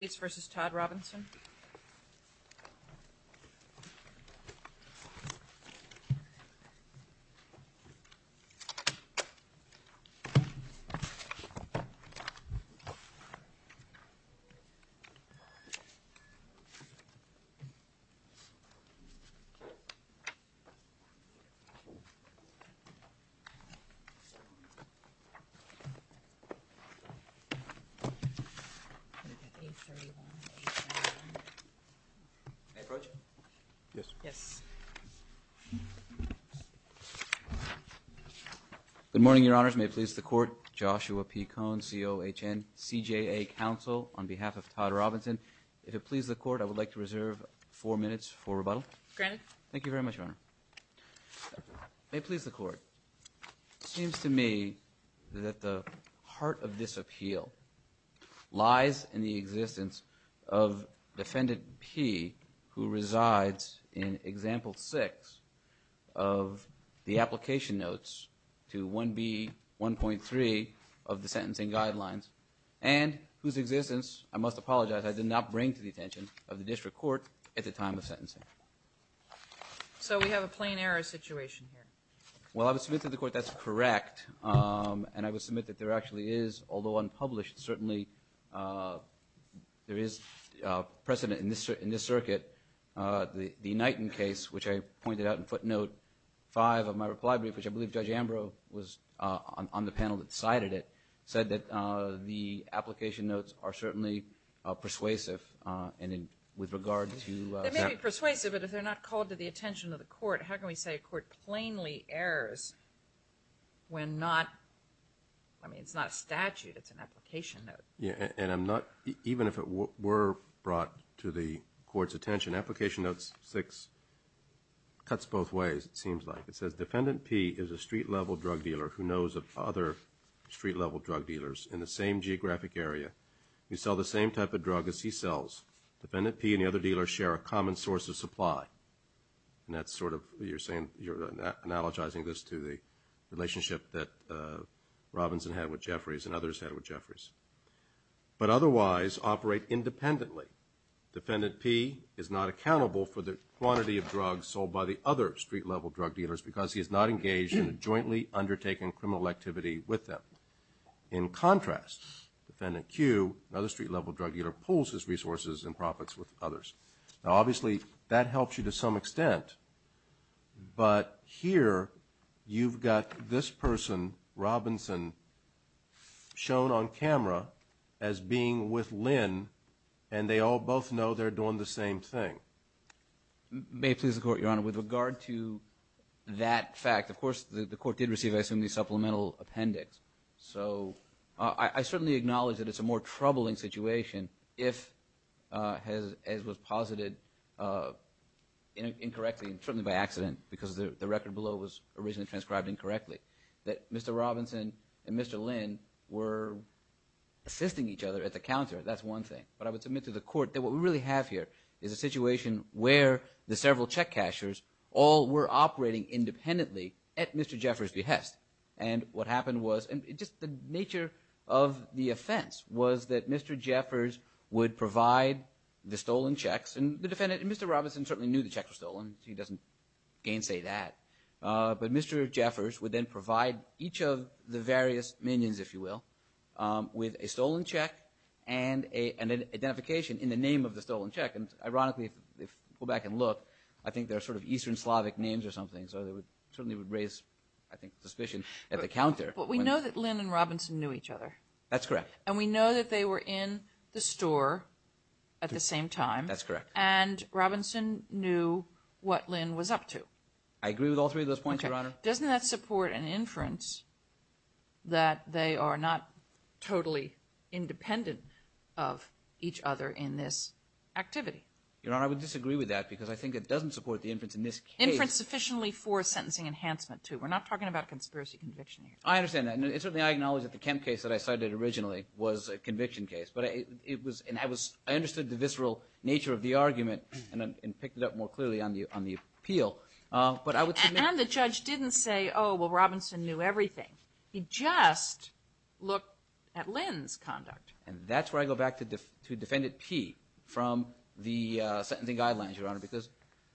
States v. Todd Robinson Good morning, Your Honors. May it please the Court, Joshua P. Cohn, C-O-H-N, C-J-A Council, on behalf of Todd Robinson. If it please the Court, I would like to reserve four minutes for rebuttal. Thank you very much, Your Honor. May it please the Court, it seems to me that the heart of this appeal lies in the existence of Defendant P, who resides in Example 6 of the application notes to 1B.1.3 of the Sentencing Guidelines, and whose existence I must apologize I did not bring to the attention of the District Court at the time of sentencing. So we have a plain error situation here. Well, I would submit to the Court that's correct, and I would submit that there actually is, although unpublished, certainly there is precedent in this circuit. The Knighton case, which I pointed out in footnote 5 of my reply brief, which I believe Judge Ambrose was on the panel that cited it, said that the application notes are certainly persuasive, and with regard to... That may be persuasive, but if they're not called to the attention of the Court, how can we say a court plainly errors when not... I mean, it's not a statute, it's an application note. Yeah, and I'm not... Even if it were brought to the Court's attention, application note 6 cuts both ways, it seems like. It says, Defendant P is a street-level drug dealer who knows of other street-level drug dealers in the same geographic area who sell the same type of drug as he sells. Defendant P and the other dealer share a common source of supply. And that's sort of... You're saying... You're analogizing this to the relationship that Robinson had with Jeffries and others had with Jeffries. But otherwise, operate independently. Defendant P is not accountable for the quantity of drugs sold by the other street-level drug dealers because he is not engaged in a jointly undertaken criminal activity with them. In contrast, Defendant Q, another street-level drug dealer, pulls his resources and profits with others. Now, obviously, that helps you to some extent. But here, you've got this person, Robinson, shown on camera as being with Lynn, and they all both know they're doing the same thing. May it please the Court, Your Honor, with regard to that fact, of course, the Court did receive, I assume, the supplemental appendix. So, I certainly acknowledge that it's a more troubling situation if, as was posited incorrectly and certainly by accident because the record below was originally transcribed incorrectly, that Mr. Robinson and Mr. Lynn were assisting each other at the counter. That's one thing. But I would submit to the Court that what we really have here is a situation where the several check cashers all were operating independently at Mr. Jeffries' behest. And what happened was, and just the nature of the offense, was that Mr. Jeffries would provide the stolen checks. And the defendant, Mr. Robinson, certainly knew the checks were stolen. He doesn't gainsay that. But Mr. Jeffries would then provide each of the various minions, if you will, with a stolen check and an identification in the name of the stolen check. And ironically, if you go back and look, I think they're sort of Eastern Slavic names or something, so they would raise, I think, suspicion at the counter. But we know that Lynn and Robinson knew each other. That's correct. And we know that they were in the store at the same time. That's correct. And Robinson knew what Lynn was up to. I agree with all three of those points, Your Honor. Doesn't that support an inference that they are not totally independent of each other in this activity? Your Honor, I would disagree with that because I think it doesn't support the inference in this case. Inference sufficiently for sentencing enhancement, too. We're not talking about conspiracy conviction here. I understand that. And certainly I acknowledge that the Kemp case that I cited originally was a conviction case. But it was, and I was, I understood the visceral nature of the argument and picked it up more clearly on the appeal. But I would submit. And the judge didn't say, oh, well, Robinson knew everything. He just looked at Lynn's conduct. And that's where I go back to defendant P from the sentencing guidelines, Your Honor, because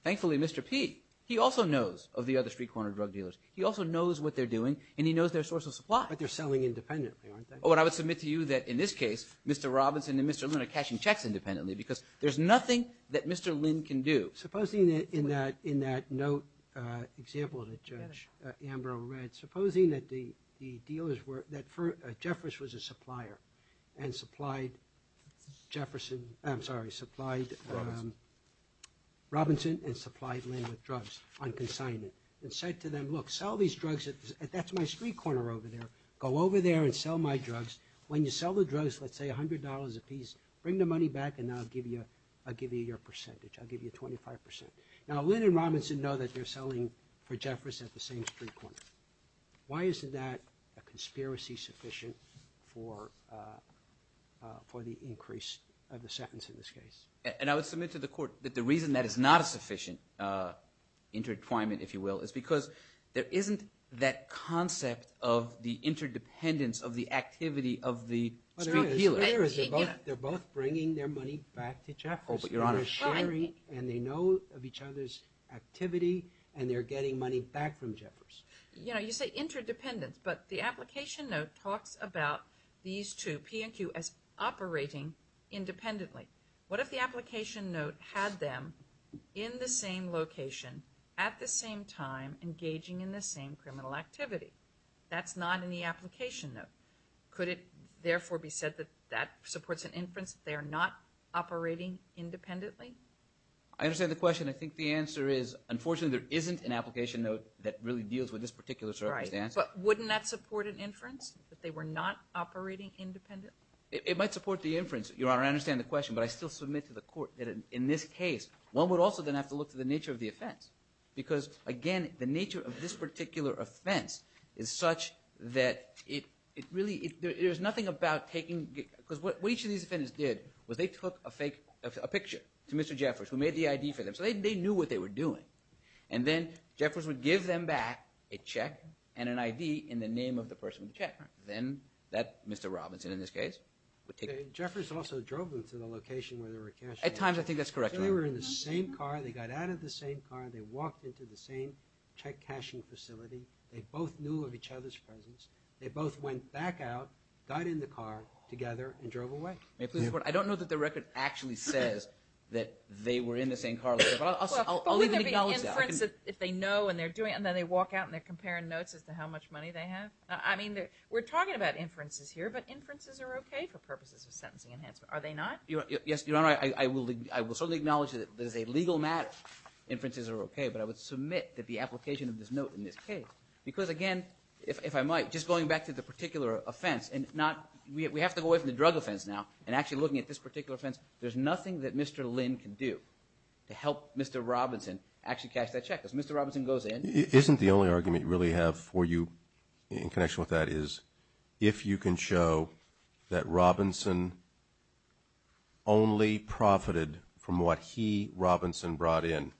thankfully Mr. P, he also knows of the other street corner drug dealers. He also knows what they're doing and he knows their source of supply. But they're selling independently, aren't they? Oh, and I would submit to you that in this case, Mr. Robinson and Mr. Lynn are cashing checks independently because there's nothing that Mr. Lynn can do. Supposing that in that note example that Judge Ambrose read, supposing that the dealers were, that Jeffress was a supplier and supplied Jefferson, I'm sorry, supplied Robinson and supplied Lynn with drugs on consignment and said to them, look, sell these drugs at, that's my street corner over there. Go over there and sell my drugs. When you sell the drugs, let's say $100 a piece, bring the money back and I'll give you, I'll give you your percentage. I'll give you 25%. Now Lynn and Robinson know that they're selling for Jeffress at the same street corner. Why isn't that a conspiracy sufficient for, for the increase of the sentence in this case? And I would submit to the court that the reason that is not a sufficient interdeployment, if you will, is because there isn't that concept of the interdependence of the activity of the street dealer. There is, there is. They're both bringing their money back to Jeffress. Oh, but Your Honor. And they're sharing and they know of each other's activity and they're getting money back from Jeffress. You know, you say interdependence, but the What if the application note had them in the same location at the same time engaging in the same criminal activity? That's not in the application note. Could it therefore be said that that supports an inference that they are not operating independently? I understand the question. I think the answer is unfortunately there isn't an application note that really deals with this particular circumstance. But wouldn't that support an inference that they were not operating independently? It might support the inference, Your Honor. I understand the question, but I still submit to the court that in this case, one would also then have to look to the nature of the offense. Because again, the nature of this particular offense is such that it really, there's nothing about taking, because what each of these defendants did was they took a fake, a picture to Mr. Jeffress who made the ID for them. So they knew what they were doing. And then Jeffress would give them back a check and an ID in the name of the person with the check. Then that Mr. Robinson in this case. Jeffress also drove them to the location where they were cashing. At times I think that's correct. They were in the same car. They got out of the same car. They walked into the same check cashing facility. They both knew of each other's presence. They both went back out, got in the car together, and drove away. May I please report? I don't know that the record actually says that they were in the same car later, but I'll leave an acknowledge there. If they know and they're doing it and then they walk out and they're comparing notes as to how much money they have. I mean, we're talking about inferences here, but inferences are okay for purposes of sentencing enhancement. Are they not? Yes, Your Honor. I will certainly acknowledge that there's a legal matter. Inferences are okay, but I would submit that the application of this note in this case, because again, if I might, just going back to the particular offense and not, we have to go away from the drug offense now and actually looking at this particular offense, there's nothing that Mr. Lynn can do to help Mr. Robinson actually cash that check. Because Mr. In connection with that is, if you can show that Robinson only profited from what he, Robinson, brought in,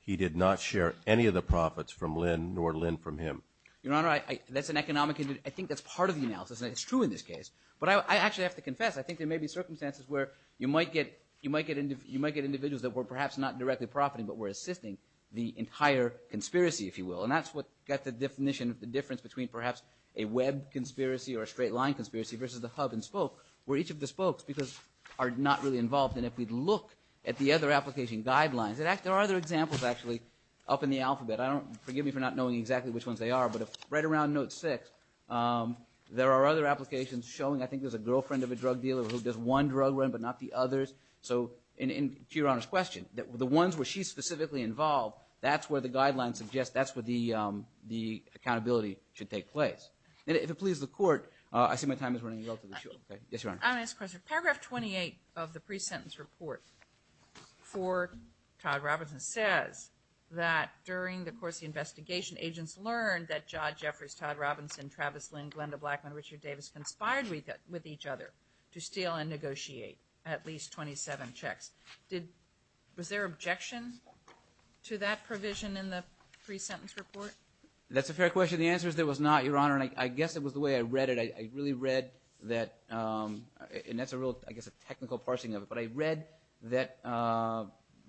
he did not share any of the profits from Lynn nor Lynn from him. Your Honor, that's an economic, I think that's part of the analysis and it's true in this case. But I actually have to confess, I think there may be circumstances where you might get, you might get, you might get individuals that were perhaps not directly profiting, but were assisting the entire conspiracy, if you will. And that's what got the definition of the difference between perhaps a web conspiracy or a straight line conspiracy versus the hub and spoke, where each of the spokes, because are not really involved. And if we'd look at the other application guidelines, there are other examples actually up in the alphabet. I don't, forgive me for not knowing exactly which ones they are, but right around note six, there are other applications showing, I think there's a girlfriend of a drug dealer who does one drug run, but not the others. So in, to Your Honor's that's where the guidelines suggest, that's where the accountability should take place. And if it pleases the court, I see my time is running relatively short. Yes, Your Honor. I want to ask a question. Paragraph 28 of the pre-sentence report for Todd Robinson says that during the course of the investigation, agents learned that Jod, Jeffries, Todd Robinson, Travis Lynn, Glenda Blackmon, Richard Davis conspired with each other to steal and negotiate at least 27 checks. Did, was there objection to that provision in the pre-sentence report? That's a fair question. The answer is there was not, Your Honor. And I guess it was the way I read it. I really read that, and that's a real, I guess a technical parsing of it, but I read that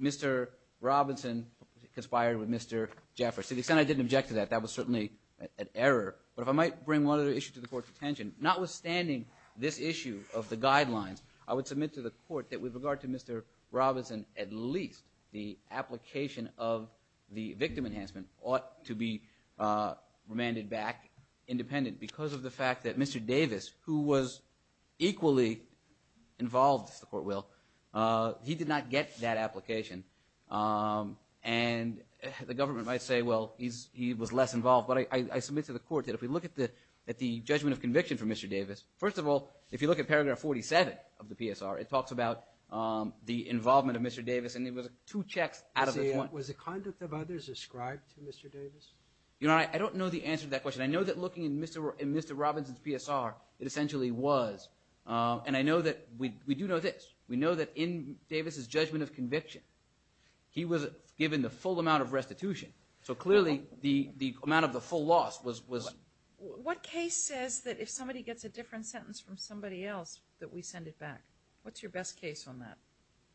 Mr. Robinson conspired with Mr. Jeffries. To the extent I didn't object to that, that was certainly an error. But if I might bring one other issue to the court's attention, notwithstanding this issue of the guidelines, I would submit to the court that with regard to Mr. Robinson, at least the application of the victim enhancement ought to be remanded back independent because of the fact that Mr. Davis, who was equally involved, if the court will, he did not get that application. And the government might say, well, he was less involved. But I submit to the court that if we look at the judgment of conviction for Mr. Davis, first of all, if you look at paragraph 47 of the PSR, it talks about the involvement of Mr. Davis, and it was two checks out of his one. Was the conduct of others ascribed to Mr. Davis? Your Honor, I don't know the answer to that question. I know that looking in Mr. Robinson's PSR, it essentially was. And I know that we do know this. We know that in Davis's judgment of conviction, he was given the full amount of restitution. So clearly, the amount of the full loss was. What case says that if somebody gets a different sentence from somebody else that we send it back? What's your best case on that?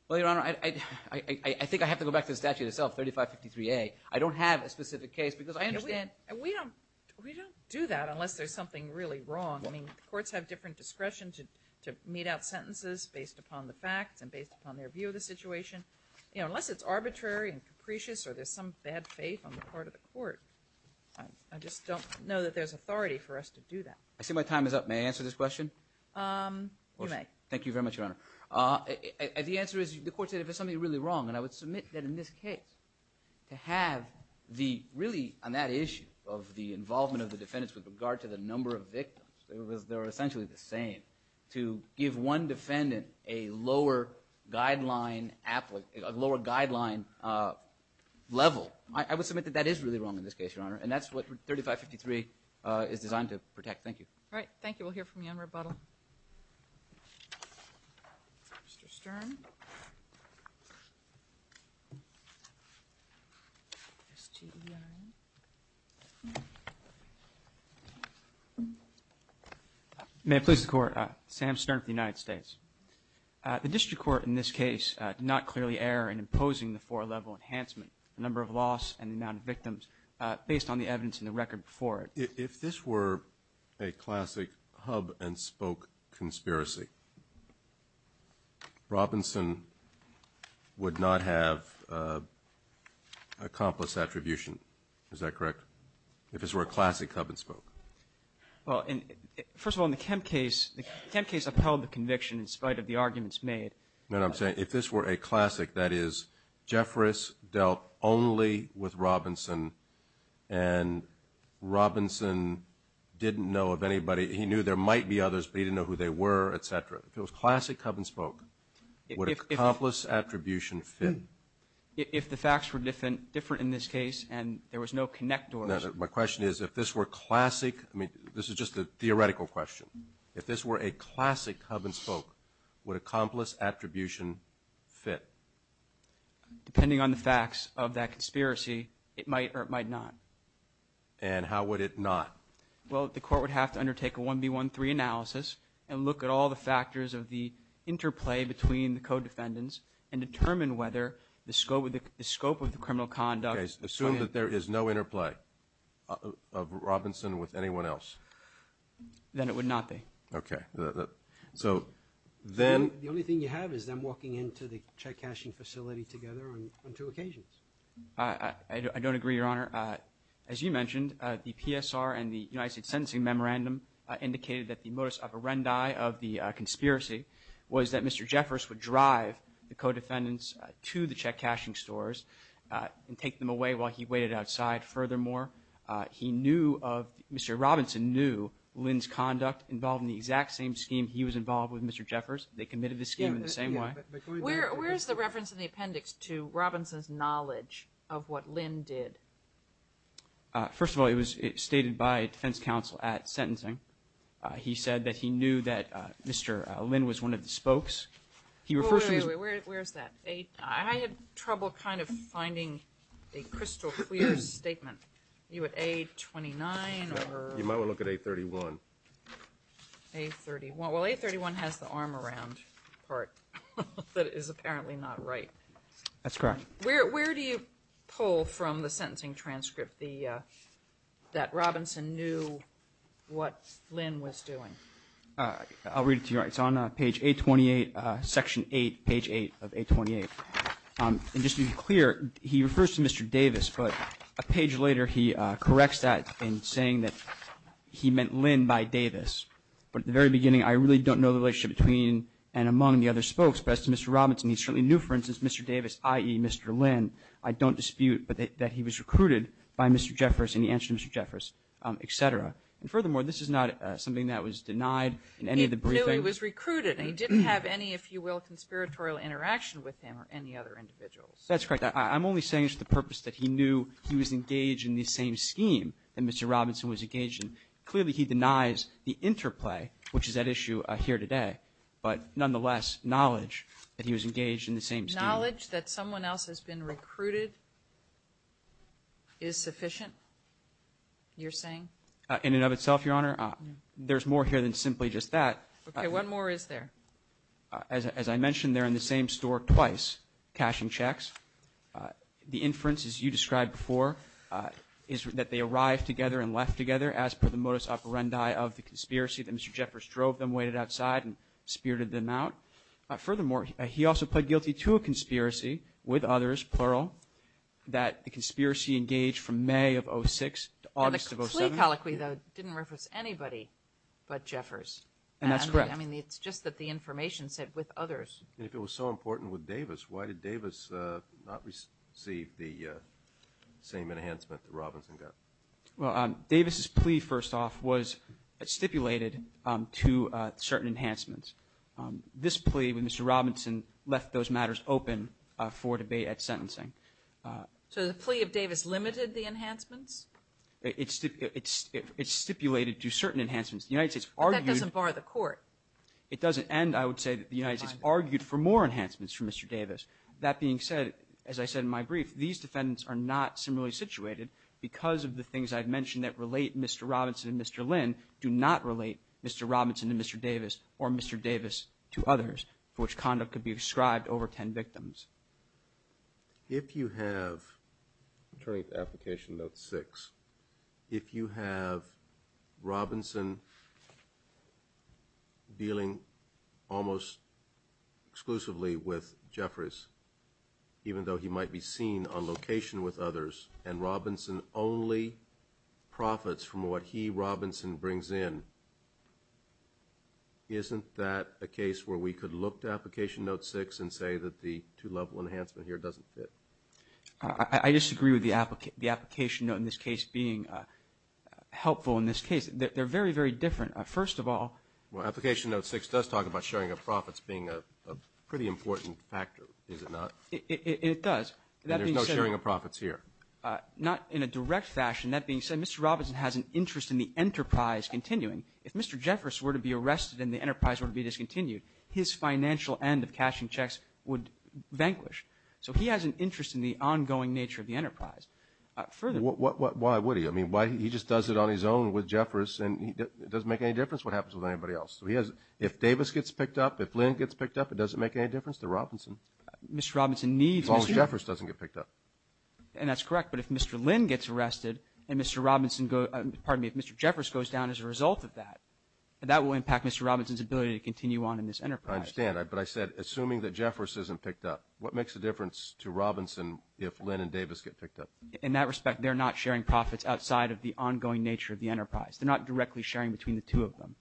Well, Your Honor, I think I have to go back to the statute itself, 3553A. I don't have a specific case because I understand. We don't do that unless there's something really wrong. I mean, courts have different discretion to mete out sentences based upon the facts and based upon their view of the situation. Unless it's arbitrary and capricious or there's some bad faith on the part of the court, I just don't know that there's authority for us to do that. I see my time is up. May I answer this question? You may. Thank you very much, Your Honor. The answer is, the court said if there's something really wrong, and I would submit that in this case, to have the, really on that issue of the involvement of the defendants with regard to the number of victims, they were essentially the same, to give one defendant a lower guideline level. I would submit that that is really wrong in this case, Your Honor, and that's what 3553 is designed to protect. Thank you. All right. Thank you. We'll hear from you on rebuttal. Mr. Stern. May I please the court? Sam Stern with the United States. The district court in this case did not err in imposing the four-level enhancement, the number of loss and the amount of victims, based on the evidence in the record before it. If this were a classic hub-and-spoke conspiracy, Robinson would not have accomplished attribution. Is that correct? If this were a classic hub-and-spoke? Well, first of all, in the Kemp case, the Kemp case upheld the conviction in spite of the arguments made. No, I'm saying if this were a classic, that is, Jeffress dealt only with Robinson and Robinson didn't know of anybody, he knew there might be others, but he didn't know who they were, etc. If it was classic hub-and-spoke, would accomplice attribution fit? If the facts were different in this case and there was no connectors. My question is, if this were classic, I mean, this is just a theoretical question, if this were a classic hub-and-spoke, would accomplice attribution fit? Depending on the facts of that conspiracy, it might or it might not. And how would it not? Well, the court would have to undertake a 1B13 analysis and look at all the factors of the interplay between the co-defendants and determine whether the scope of the criminal conduct... Assume that there is no interplay of Robinson with anyone else. Then it would not be. Okay, so then... The only thing you have is them walking into the check-cashing facility together on two occasions. I don't agree, Your Honor. As you mentioned, the PSR and the United States Sentencing Memorandum indicated that the modus operandi of the conspiracy was that Mr. Jeffress would drive the co-defendants to the check-cashing stores and take them away while he waited outside. Furthermore, he knew of... Mr. Robinson knew Lynn's conduct involved in the exact same scheme he was involved with Mr. Jeffress. They committed the scheme in the same way. Where is the reference in the appendix to Robinson's knowledge of what Lynn did? First of all, it was stated by defense counsel at sentencing. He said that he knew that Mr. Lynn was one of the spokes. He refers to... Where's that? I had trouble kind of finding a crystal clear statement. You at A-29 or... You might want to look at A-31. A-31. Well, A-31 has the arm around part that is apparently not right. That's correct. Where do you pull from the sentencing transcript that Robinson knew what Lynn was doing? I'll read it to you. It's on page 828, section 8, page 8 of 828. And just to be clear, he refers to Mr. Davis, but a page later he corrects that in saying that he meant Lynn by Davis. But at the very beginning, I really don't know the relationship between and among the other spokes. But as to Mr. Robinson, he certainly knew, for instance, Mr. Davis, i.e. Mr. Lynn, I don't dispute, but that he was recruited by Mr. Jeffress and he answered Mr. Jeffress, et cetera. And furthermore, this is not something that was denied in any of the briefings. He knew he was recruited, and he didn't have any, if you will, conspiratorial interaction with him or any other individuals. That's correct. I'm only saying it's the purpose that he knew he was engaged in the same scheme that Mr. Robinson was engaged in. Clearly, he denies the interplay, which is at issue here today, but nonetheless, knowledge that he was engaged in the same scheme. Knowledge that someone else has been recruited is sufficient, you're saying? In and of itself, Your Honor. There's more here than simply just that. Okay. What more is there? As I mentioned, they're in the same store twice cashing checks. The inference, as you described before, is that they arrived together and left together as per the modus operandi of the conspiracy that Mr. Jeffress drove them, waited outside, and spirited them out. Furthermore, he also pled guilty to a conspiracy with others, plural, that the conspiracy engaged from May of 06 to August of 07. The plea colloquy, though, didn't reference anybody but Jeffress. And that's correct. I mean, it's just that the information said with others. If it was so important with Davis, why did Davis not receive the same enhancement that Robinson got? Well, Davis's plea, first off, was stipulated to certain enhancements. This plea with Mr. Robinson left those matters open for debate at sentencing. So the plea of Davis limited the enhancements? It stipulated to certain enhancements. The United States argued for more enhancements for Mr. Davis. That being said, as I said in my brief, these defendants are not similarly situated because of the things I've mentioned that relate Mr. Robinson and Mr. Lynn do not relate Mr. Robinson to Mr. Davis or Mr. Davis to others, for which conduct could be ascribed over 10 victims. If you have, turning to application note six, if you have Robinson dealing almost exclusively with Jeffress, even though he might be seen on location with others, and Robinson only profits from what he, Robinson, brings in, isn't that a case where we could look to application note six and say that the two-level enhancement here doesn't fit? I disagree with the application note in this case being helpful. In this case, they're very, very different. First of all... Well, application note six does talk about sharing of profits being a pretty important factor, is it not? It does. There's no sharing of profits here. Not in a direct fashion. That being said, Mr. Robinson has an interest in the enterprise continuing. If Mr. Jeffress were to be arrested and the enterprise were to be discontinued, his financial end of cashing checks would vanquish. So he has an interest in the ongoing nature of the enterprise. Further... Why would he? I mean, why, he just does it on his own with Jeffress and it doesn't make any difference what happens with anybody else. So he has, if Davis gets picked up, if Lynn gets picked up, it doesn't make any difference to Robinson. Mr. Robinson needs... Jeffress doesn't get picked up. And that's correct. But if Mr. Lynn gets arrested and Mr. Robinson goes, pardon me, if Mr. Jeffress goes down as a result of that, that will impact Mr. Robinson's ability to continue on in this enterprise. I understand. But I said, assuming that Jeffress isn't picked up, what makes a difference to Robinson if Lynn and Davis get picked up? In that respect, they're not sharing profits outside of the ongoing nature of the enterprise. They're not directly sharing between the two of them.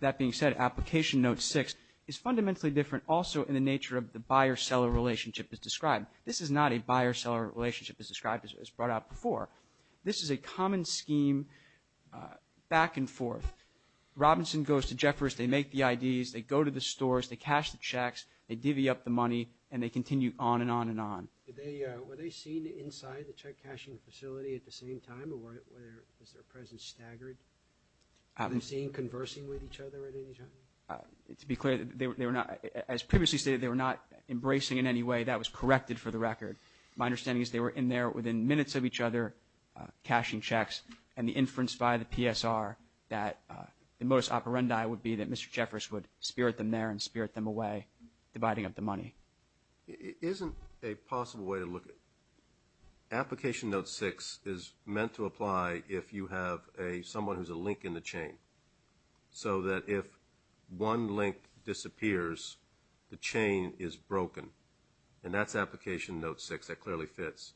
That being said, application note six is fundamentally different also in the nature of the buyer-seller relationship as described. This is not a buyer-seller relationship as described, as brought up before. This is a common scheme back and forth. Robinson goes to Jeffress, they make the IDs, they go to the stores, they cash the checks, they divvy up the money, and they continue on and on and on. Were they seen inside the check cashing facility at the same time? Or was their presence staggered? Were they seen conversing with each other at any time? To be clear, as previously stated, they were not embracing in any way. That was corrected for the record. My understanding is they were in there within minutes of each other, cashing checks, and the inference by the PSR that the modus operandi would be that Mr. Jeffress would spirit them there and spirit them away, dividing up the money. It isn't a possible way to look at it. Application note six is meant to apply if you have someone who's a link in the chain. So that if one link disappears, the chain is broken. And that's application note six. That clearly fits.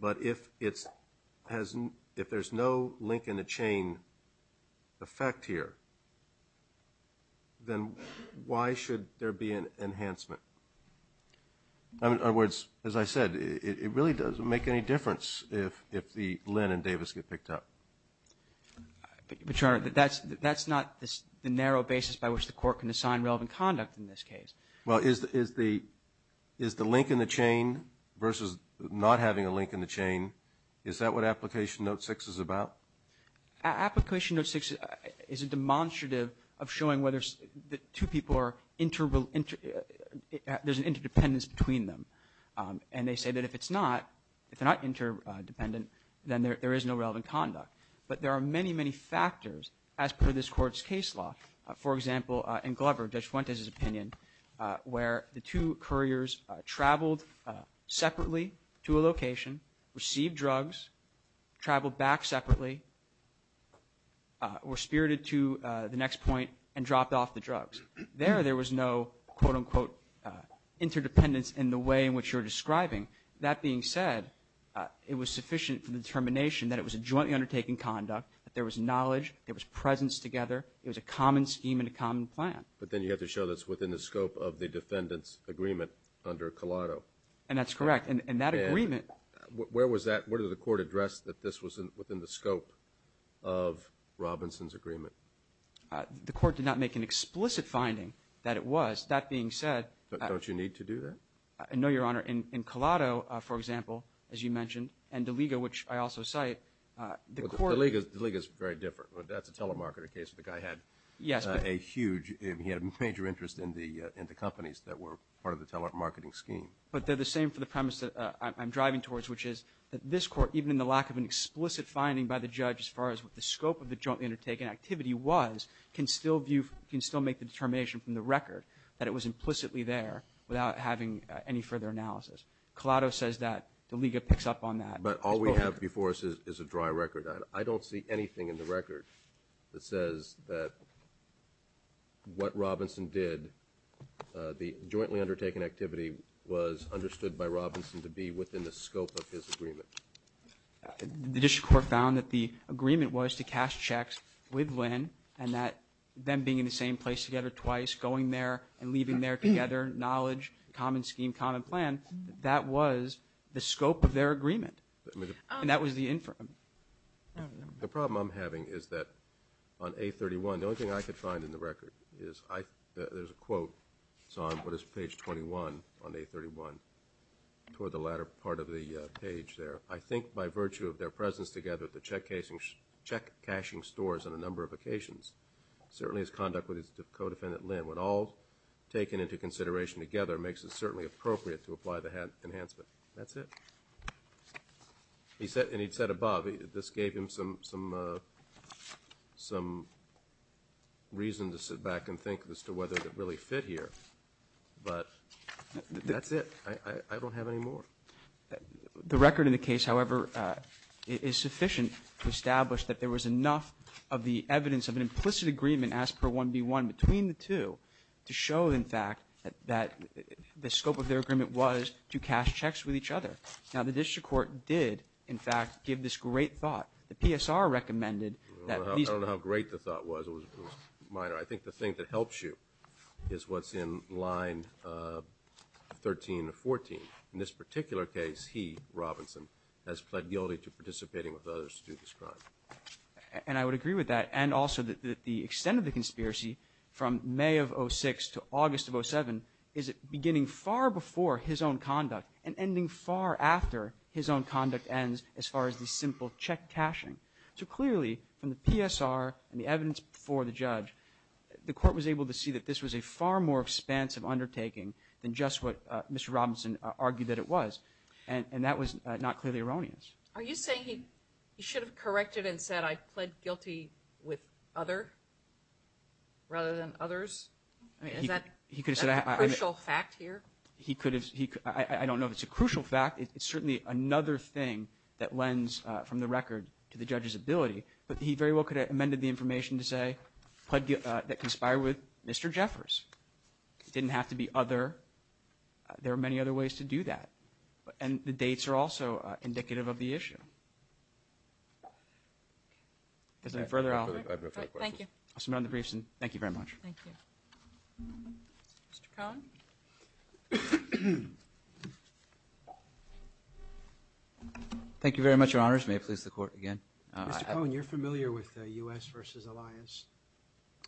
But if there's no link in the chain effect here, then why should there be an enhancement? In other words, as I said, it really doesn't make any difference if Lynn and Davis get picked up. But, Your Honor, that's not the narrow basis by which the court can assign relevant conduct in this case. Well, is the link in the chain versus not having a link in the chain, is that what application note six is about? Application note six is a demonstrative of showing whether the two people are there's an interdependence between them. And they say that if it's not, if they're not interdependent, then there is no relevant conduct. But there are many, many factors as per this court's case law. For example, in Glover, Judge Fuentes' opinion, where the two couriers traveled separately to a location, received drugs, traveled back separately, were spirited to the next point, and dropped off the drugs. There, there was no, quote, unquote, interdependence in the way in which you're describing. That being said, it was sufficient for the determination that it was a jointly undertaking conduct, that there was knowledge, there was presence together, it was a common scheme and a common plan. But then you have to show that it's within the scope of the defendant's agreement under Collado. And that's correct. And that agreement. Where was that? Where did the court address that this was within the scope of Robinson's agreement? The court did not make an explicit finding that it was. That being said. Don't you need to do that? I know, Your Honor, in Collado, for example, as you mentioned, and DeLiga, which I also cite, the court. DeLiga is very different. That's a telemarketer case. The guy had a huge, he had major interest in the companies that were part of the telemarketing scheme. But they're the same for the premise that I'm driving towards, which is that this court, even in the lack of an explicit finding by the judge as far as what the scope of the jointly undertaken activity was, can still view, can still make the determination from the record that it was implicitly there without having any further analysis. Collado says that DeLiga picks up on that. But all we have before us is a dry record. I don't see anything in the record that says that what Robinson did, the jointly undertaken activity was understood by Robinson to be within the scope of his agreement. The district court found that the agreement was to cash checks with Lynn and that them being in the same place together twice, going there and leaving there together, knowledge, common scheme, common plan, that was the scope of their agreement. And that was the infirm. The problem I'm having is that on A31, the only thing I could find in the record is there's a quote. It's on what is page 21 on A31 toward the latter part of the page there. I think by virtue of their presence together at the check cashing stores on a number of co-defendant Lynn, what all taken into consideration together makes it certainly appropriate to apply the enhancement. That's it. He said, and he said above, this gave him some reason to sit back and think as to whether it really fit here. But that's it. I don't have any more. The record in the case, however, is sufficient to establish that there was enough of the 1B1 between the two to show, in fact, that the scope of their agreement was to cash checks with each other. Now, the district court did, in fact, give this great thought. The PSR recommended that these- I don't know how great the thought was. It was minor. I think the thing that helps you is what's in line 13 or 14. In this particular case, he, Robinson, has pled guilty to participating with others to do this crime. And I would agree with that and also that the extent of the conspiracy from May of 06 to August of 07 is beginning far before his own conduct and ending far after his own conduct ends as far as the simple check cashing. So clearly, from the PSR and the evidence before the judge, the court was able to see that this was a far more expansive undertaking than just what Mr. Robinson argued that it was. And that was not clearly erroneous. Are you saying he should have corrected and said, I pled guilty with other rather than others? I mean, is that a crucial fact here? He could have said- I don't know if it's a crucial fact. It's certainly another thing that lends from the record to the judge's ability. But he very well could have amended the information to say, pled guilty- that conspired with Mr. Jeffers. It didn't have to be other. There are many other ways to do that. And the dates are also indicative of the issue. If there's any further- I have no further questions. Thank you. I'll submit on the briefs. And thank you very much. Thank you. Mr. Cohen? Thank you very much, Your Honors. May I please the court again? Mr. Cohen, you're familiar with the U.S. versus Alliance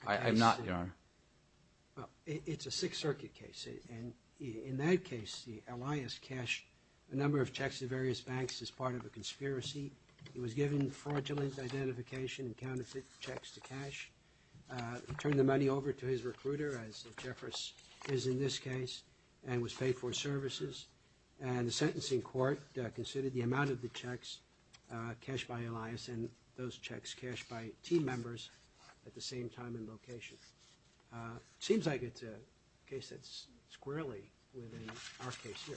case? I'm not, Your Honor. Well, it's a Sixth Circuit case. And in that case, the Alliance cashed a number of checks to various banks as part of a conspiracy. He was given fraudulent identification and counterfeit checks to cash. He turned the money over to his recruiter, as Jeffers is in this case, and was paid for services. And the sentencing court considered the amount of the checks cashed by Alliance and those checks cashed by team members at the same time and location. It seems like it's a case that's squarely within our case here.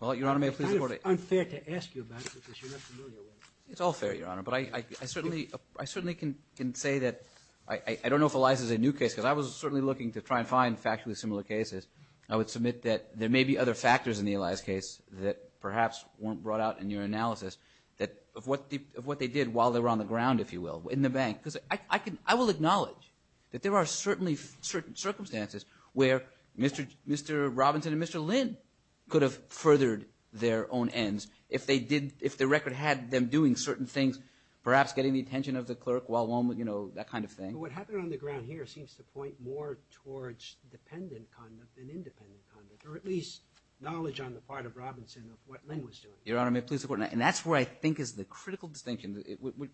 Well, Your Honor, may I please the court again? It's unfair to ask you about it because you're not familiar with it. It's all fair, Your Honor. But I certainly can say that I don't know if Alliance is a new case. Because I was certainly looking to try and find factually similar cases. I would submit that there may be other factors in the Alliance case that perhaps weren't brought out in your analysis of what they did while they were on the ground, if you will, in the bank. I will acknowledge that there are certainly certain circumstances where Mr. Robinson and Mr. Lynn could have furthered their own ends if the record had them doing certain things, perhaps getting the attention of the clerk while on, you know, that kind of thing. What happened on the ground here seems to point more towards dependent conduct than independent conduct, or at least knowledge on the part of Robinson of what Lynn was doing. Your Honor, may I please the court? And that's where I think is the critical distinction,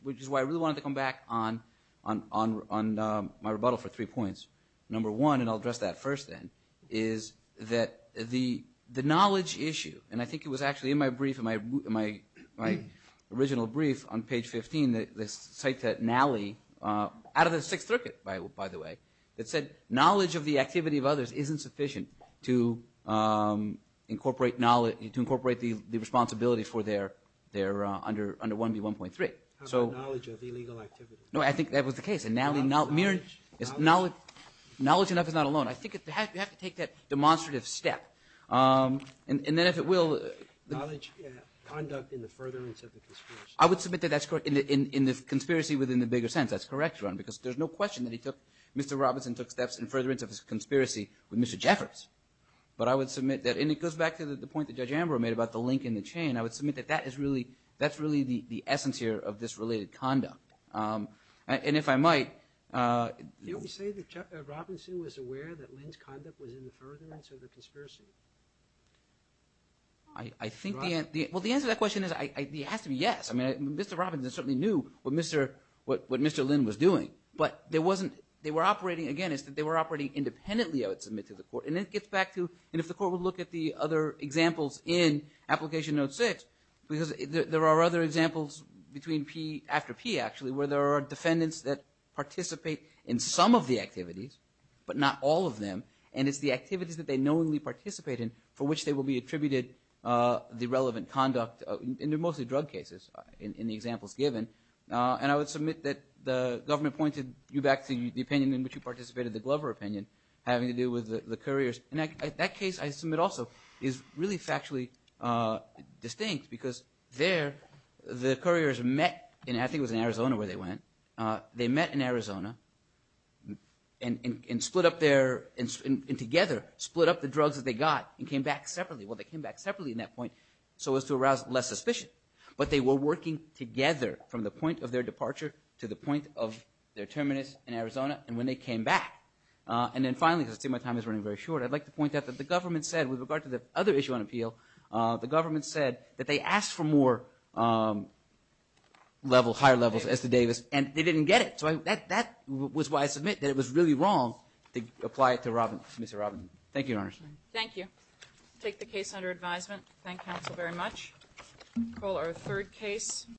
which is why I really wanted to come back on my rebuttal for three points. Number one, and I'll address that first then, is that the knowledge issue, and I think it was actually in my brief, in my original brief on page 15, the site that Nally, out of the Sixth Circuit, by the way, that said knowledge of the activity of others isn't sufficient to incorporate knowledge, to incorporate the responsibility for their, under 1B1.3. So knowledge of illegal activity. No, I think that was the case, and Nally, knowledge enough is not alone. I think you have to take that demonstrative step, and then if it will. Knowledge, conduct in the furtherance of the conspiracy. I would submit that that's correct, in the conspiracy within the bigger sense, that's correct, Your Honor, because there's no question that he took, Mr. Robinson took steps in furtherance of his conspiracy with Mr. Jeffers, but I would submit that, and it goes back to the point that Judge Ambrose made about the link in the chain, I would submit that that is really the essence here of this related conduct, and if I might. Did you say that Robinson was aware that Lynn's conduct was in the furtherance of the conspiracy? I think, well, the answer to that question is, it has to be yes. I mean, Mr. Robinson certainly knew what Mr. Lynn was doing, but there wasn't, they were operating, again, it's that they were operating independently, I would submit to the Court, and it gets back to, and if the Court would look at the other examples in Application Note 6, because there are other examples between P, after P, actually, where there are defendants that participate in some of the activities, but not all of them, and it's the activities that they knowingly participate in for which they will be attributed the relevant conduct, and they're mostly drug cases, in the examples given, and I would submit that the government pointed you back to the opinion in which you participated, the Glover opinion, having to do with the couriers, and that case, I submit also, is really factually distinct, because there, the couriers met, and I think it was in Arizona where they went, they met in Arizona, and split up their, and together, split up the drugs that they got, and came back separately. Well, they came back separately in that point, so as to arouse less suspicion, but they were working together from the point of their departure to the point of their terminus in Arizona, and when they came back, and then finally, because I see my time is running very short, I'd like to point out that the government said, with regard to the other issue on appeal, the government said that they asked for more level, higher levels, as to Davis, and they didn't get it, so that was why I submit that it was really wrong to apply it to Mr. Robinson. Thank you, Your Honors. Thank you. Take the case under advisement. Thank counsel very much. Call our third case.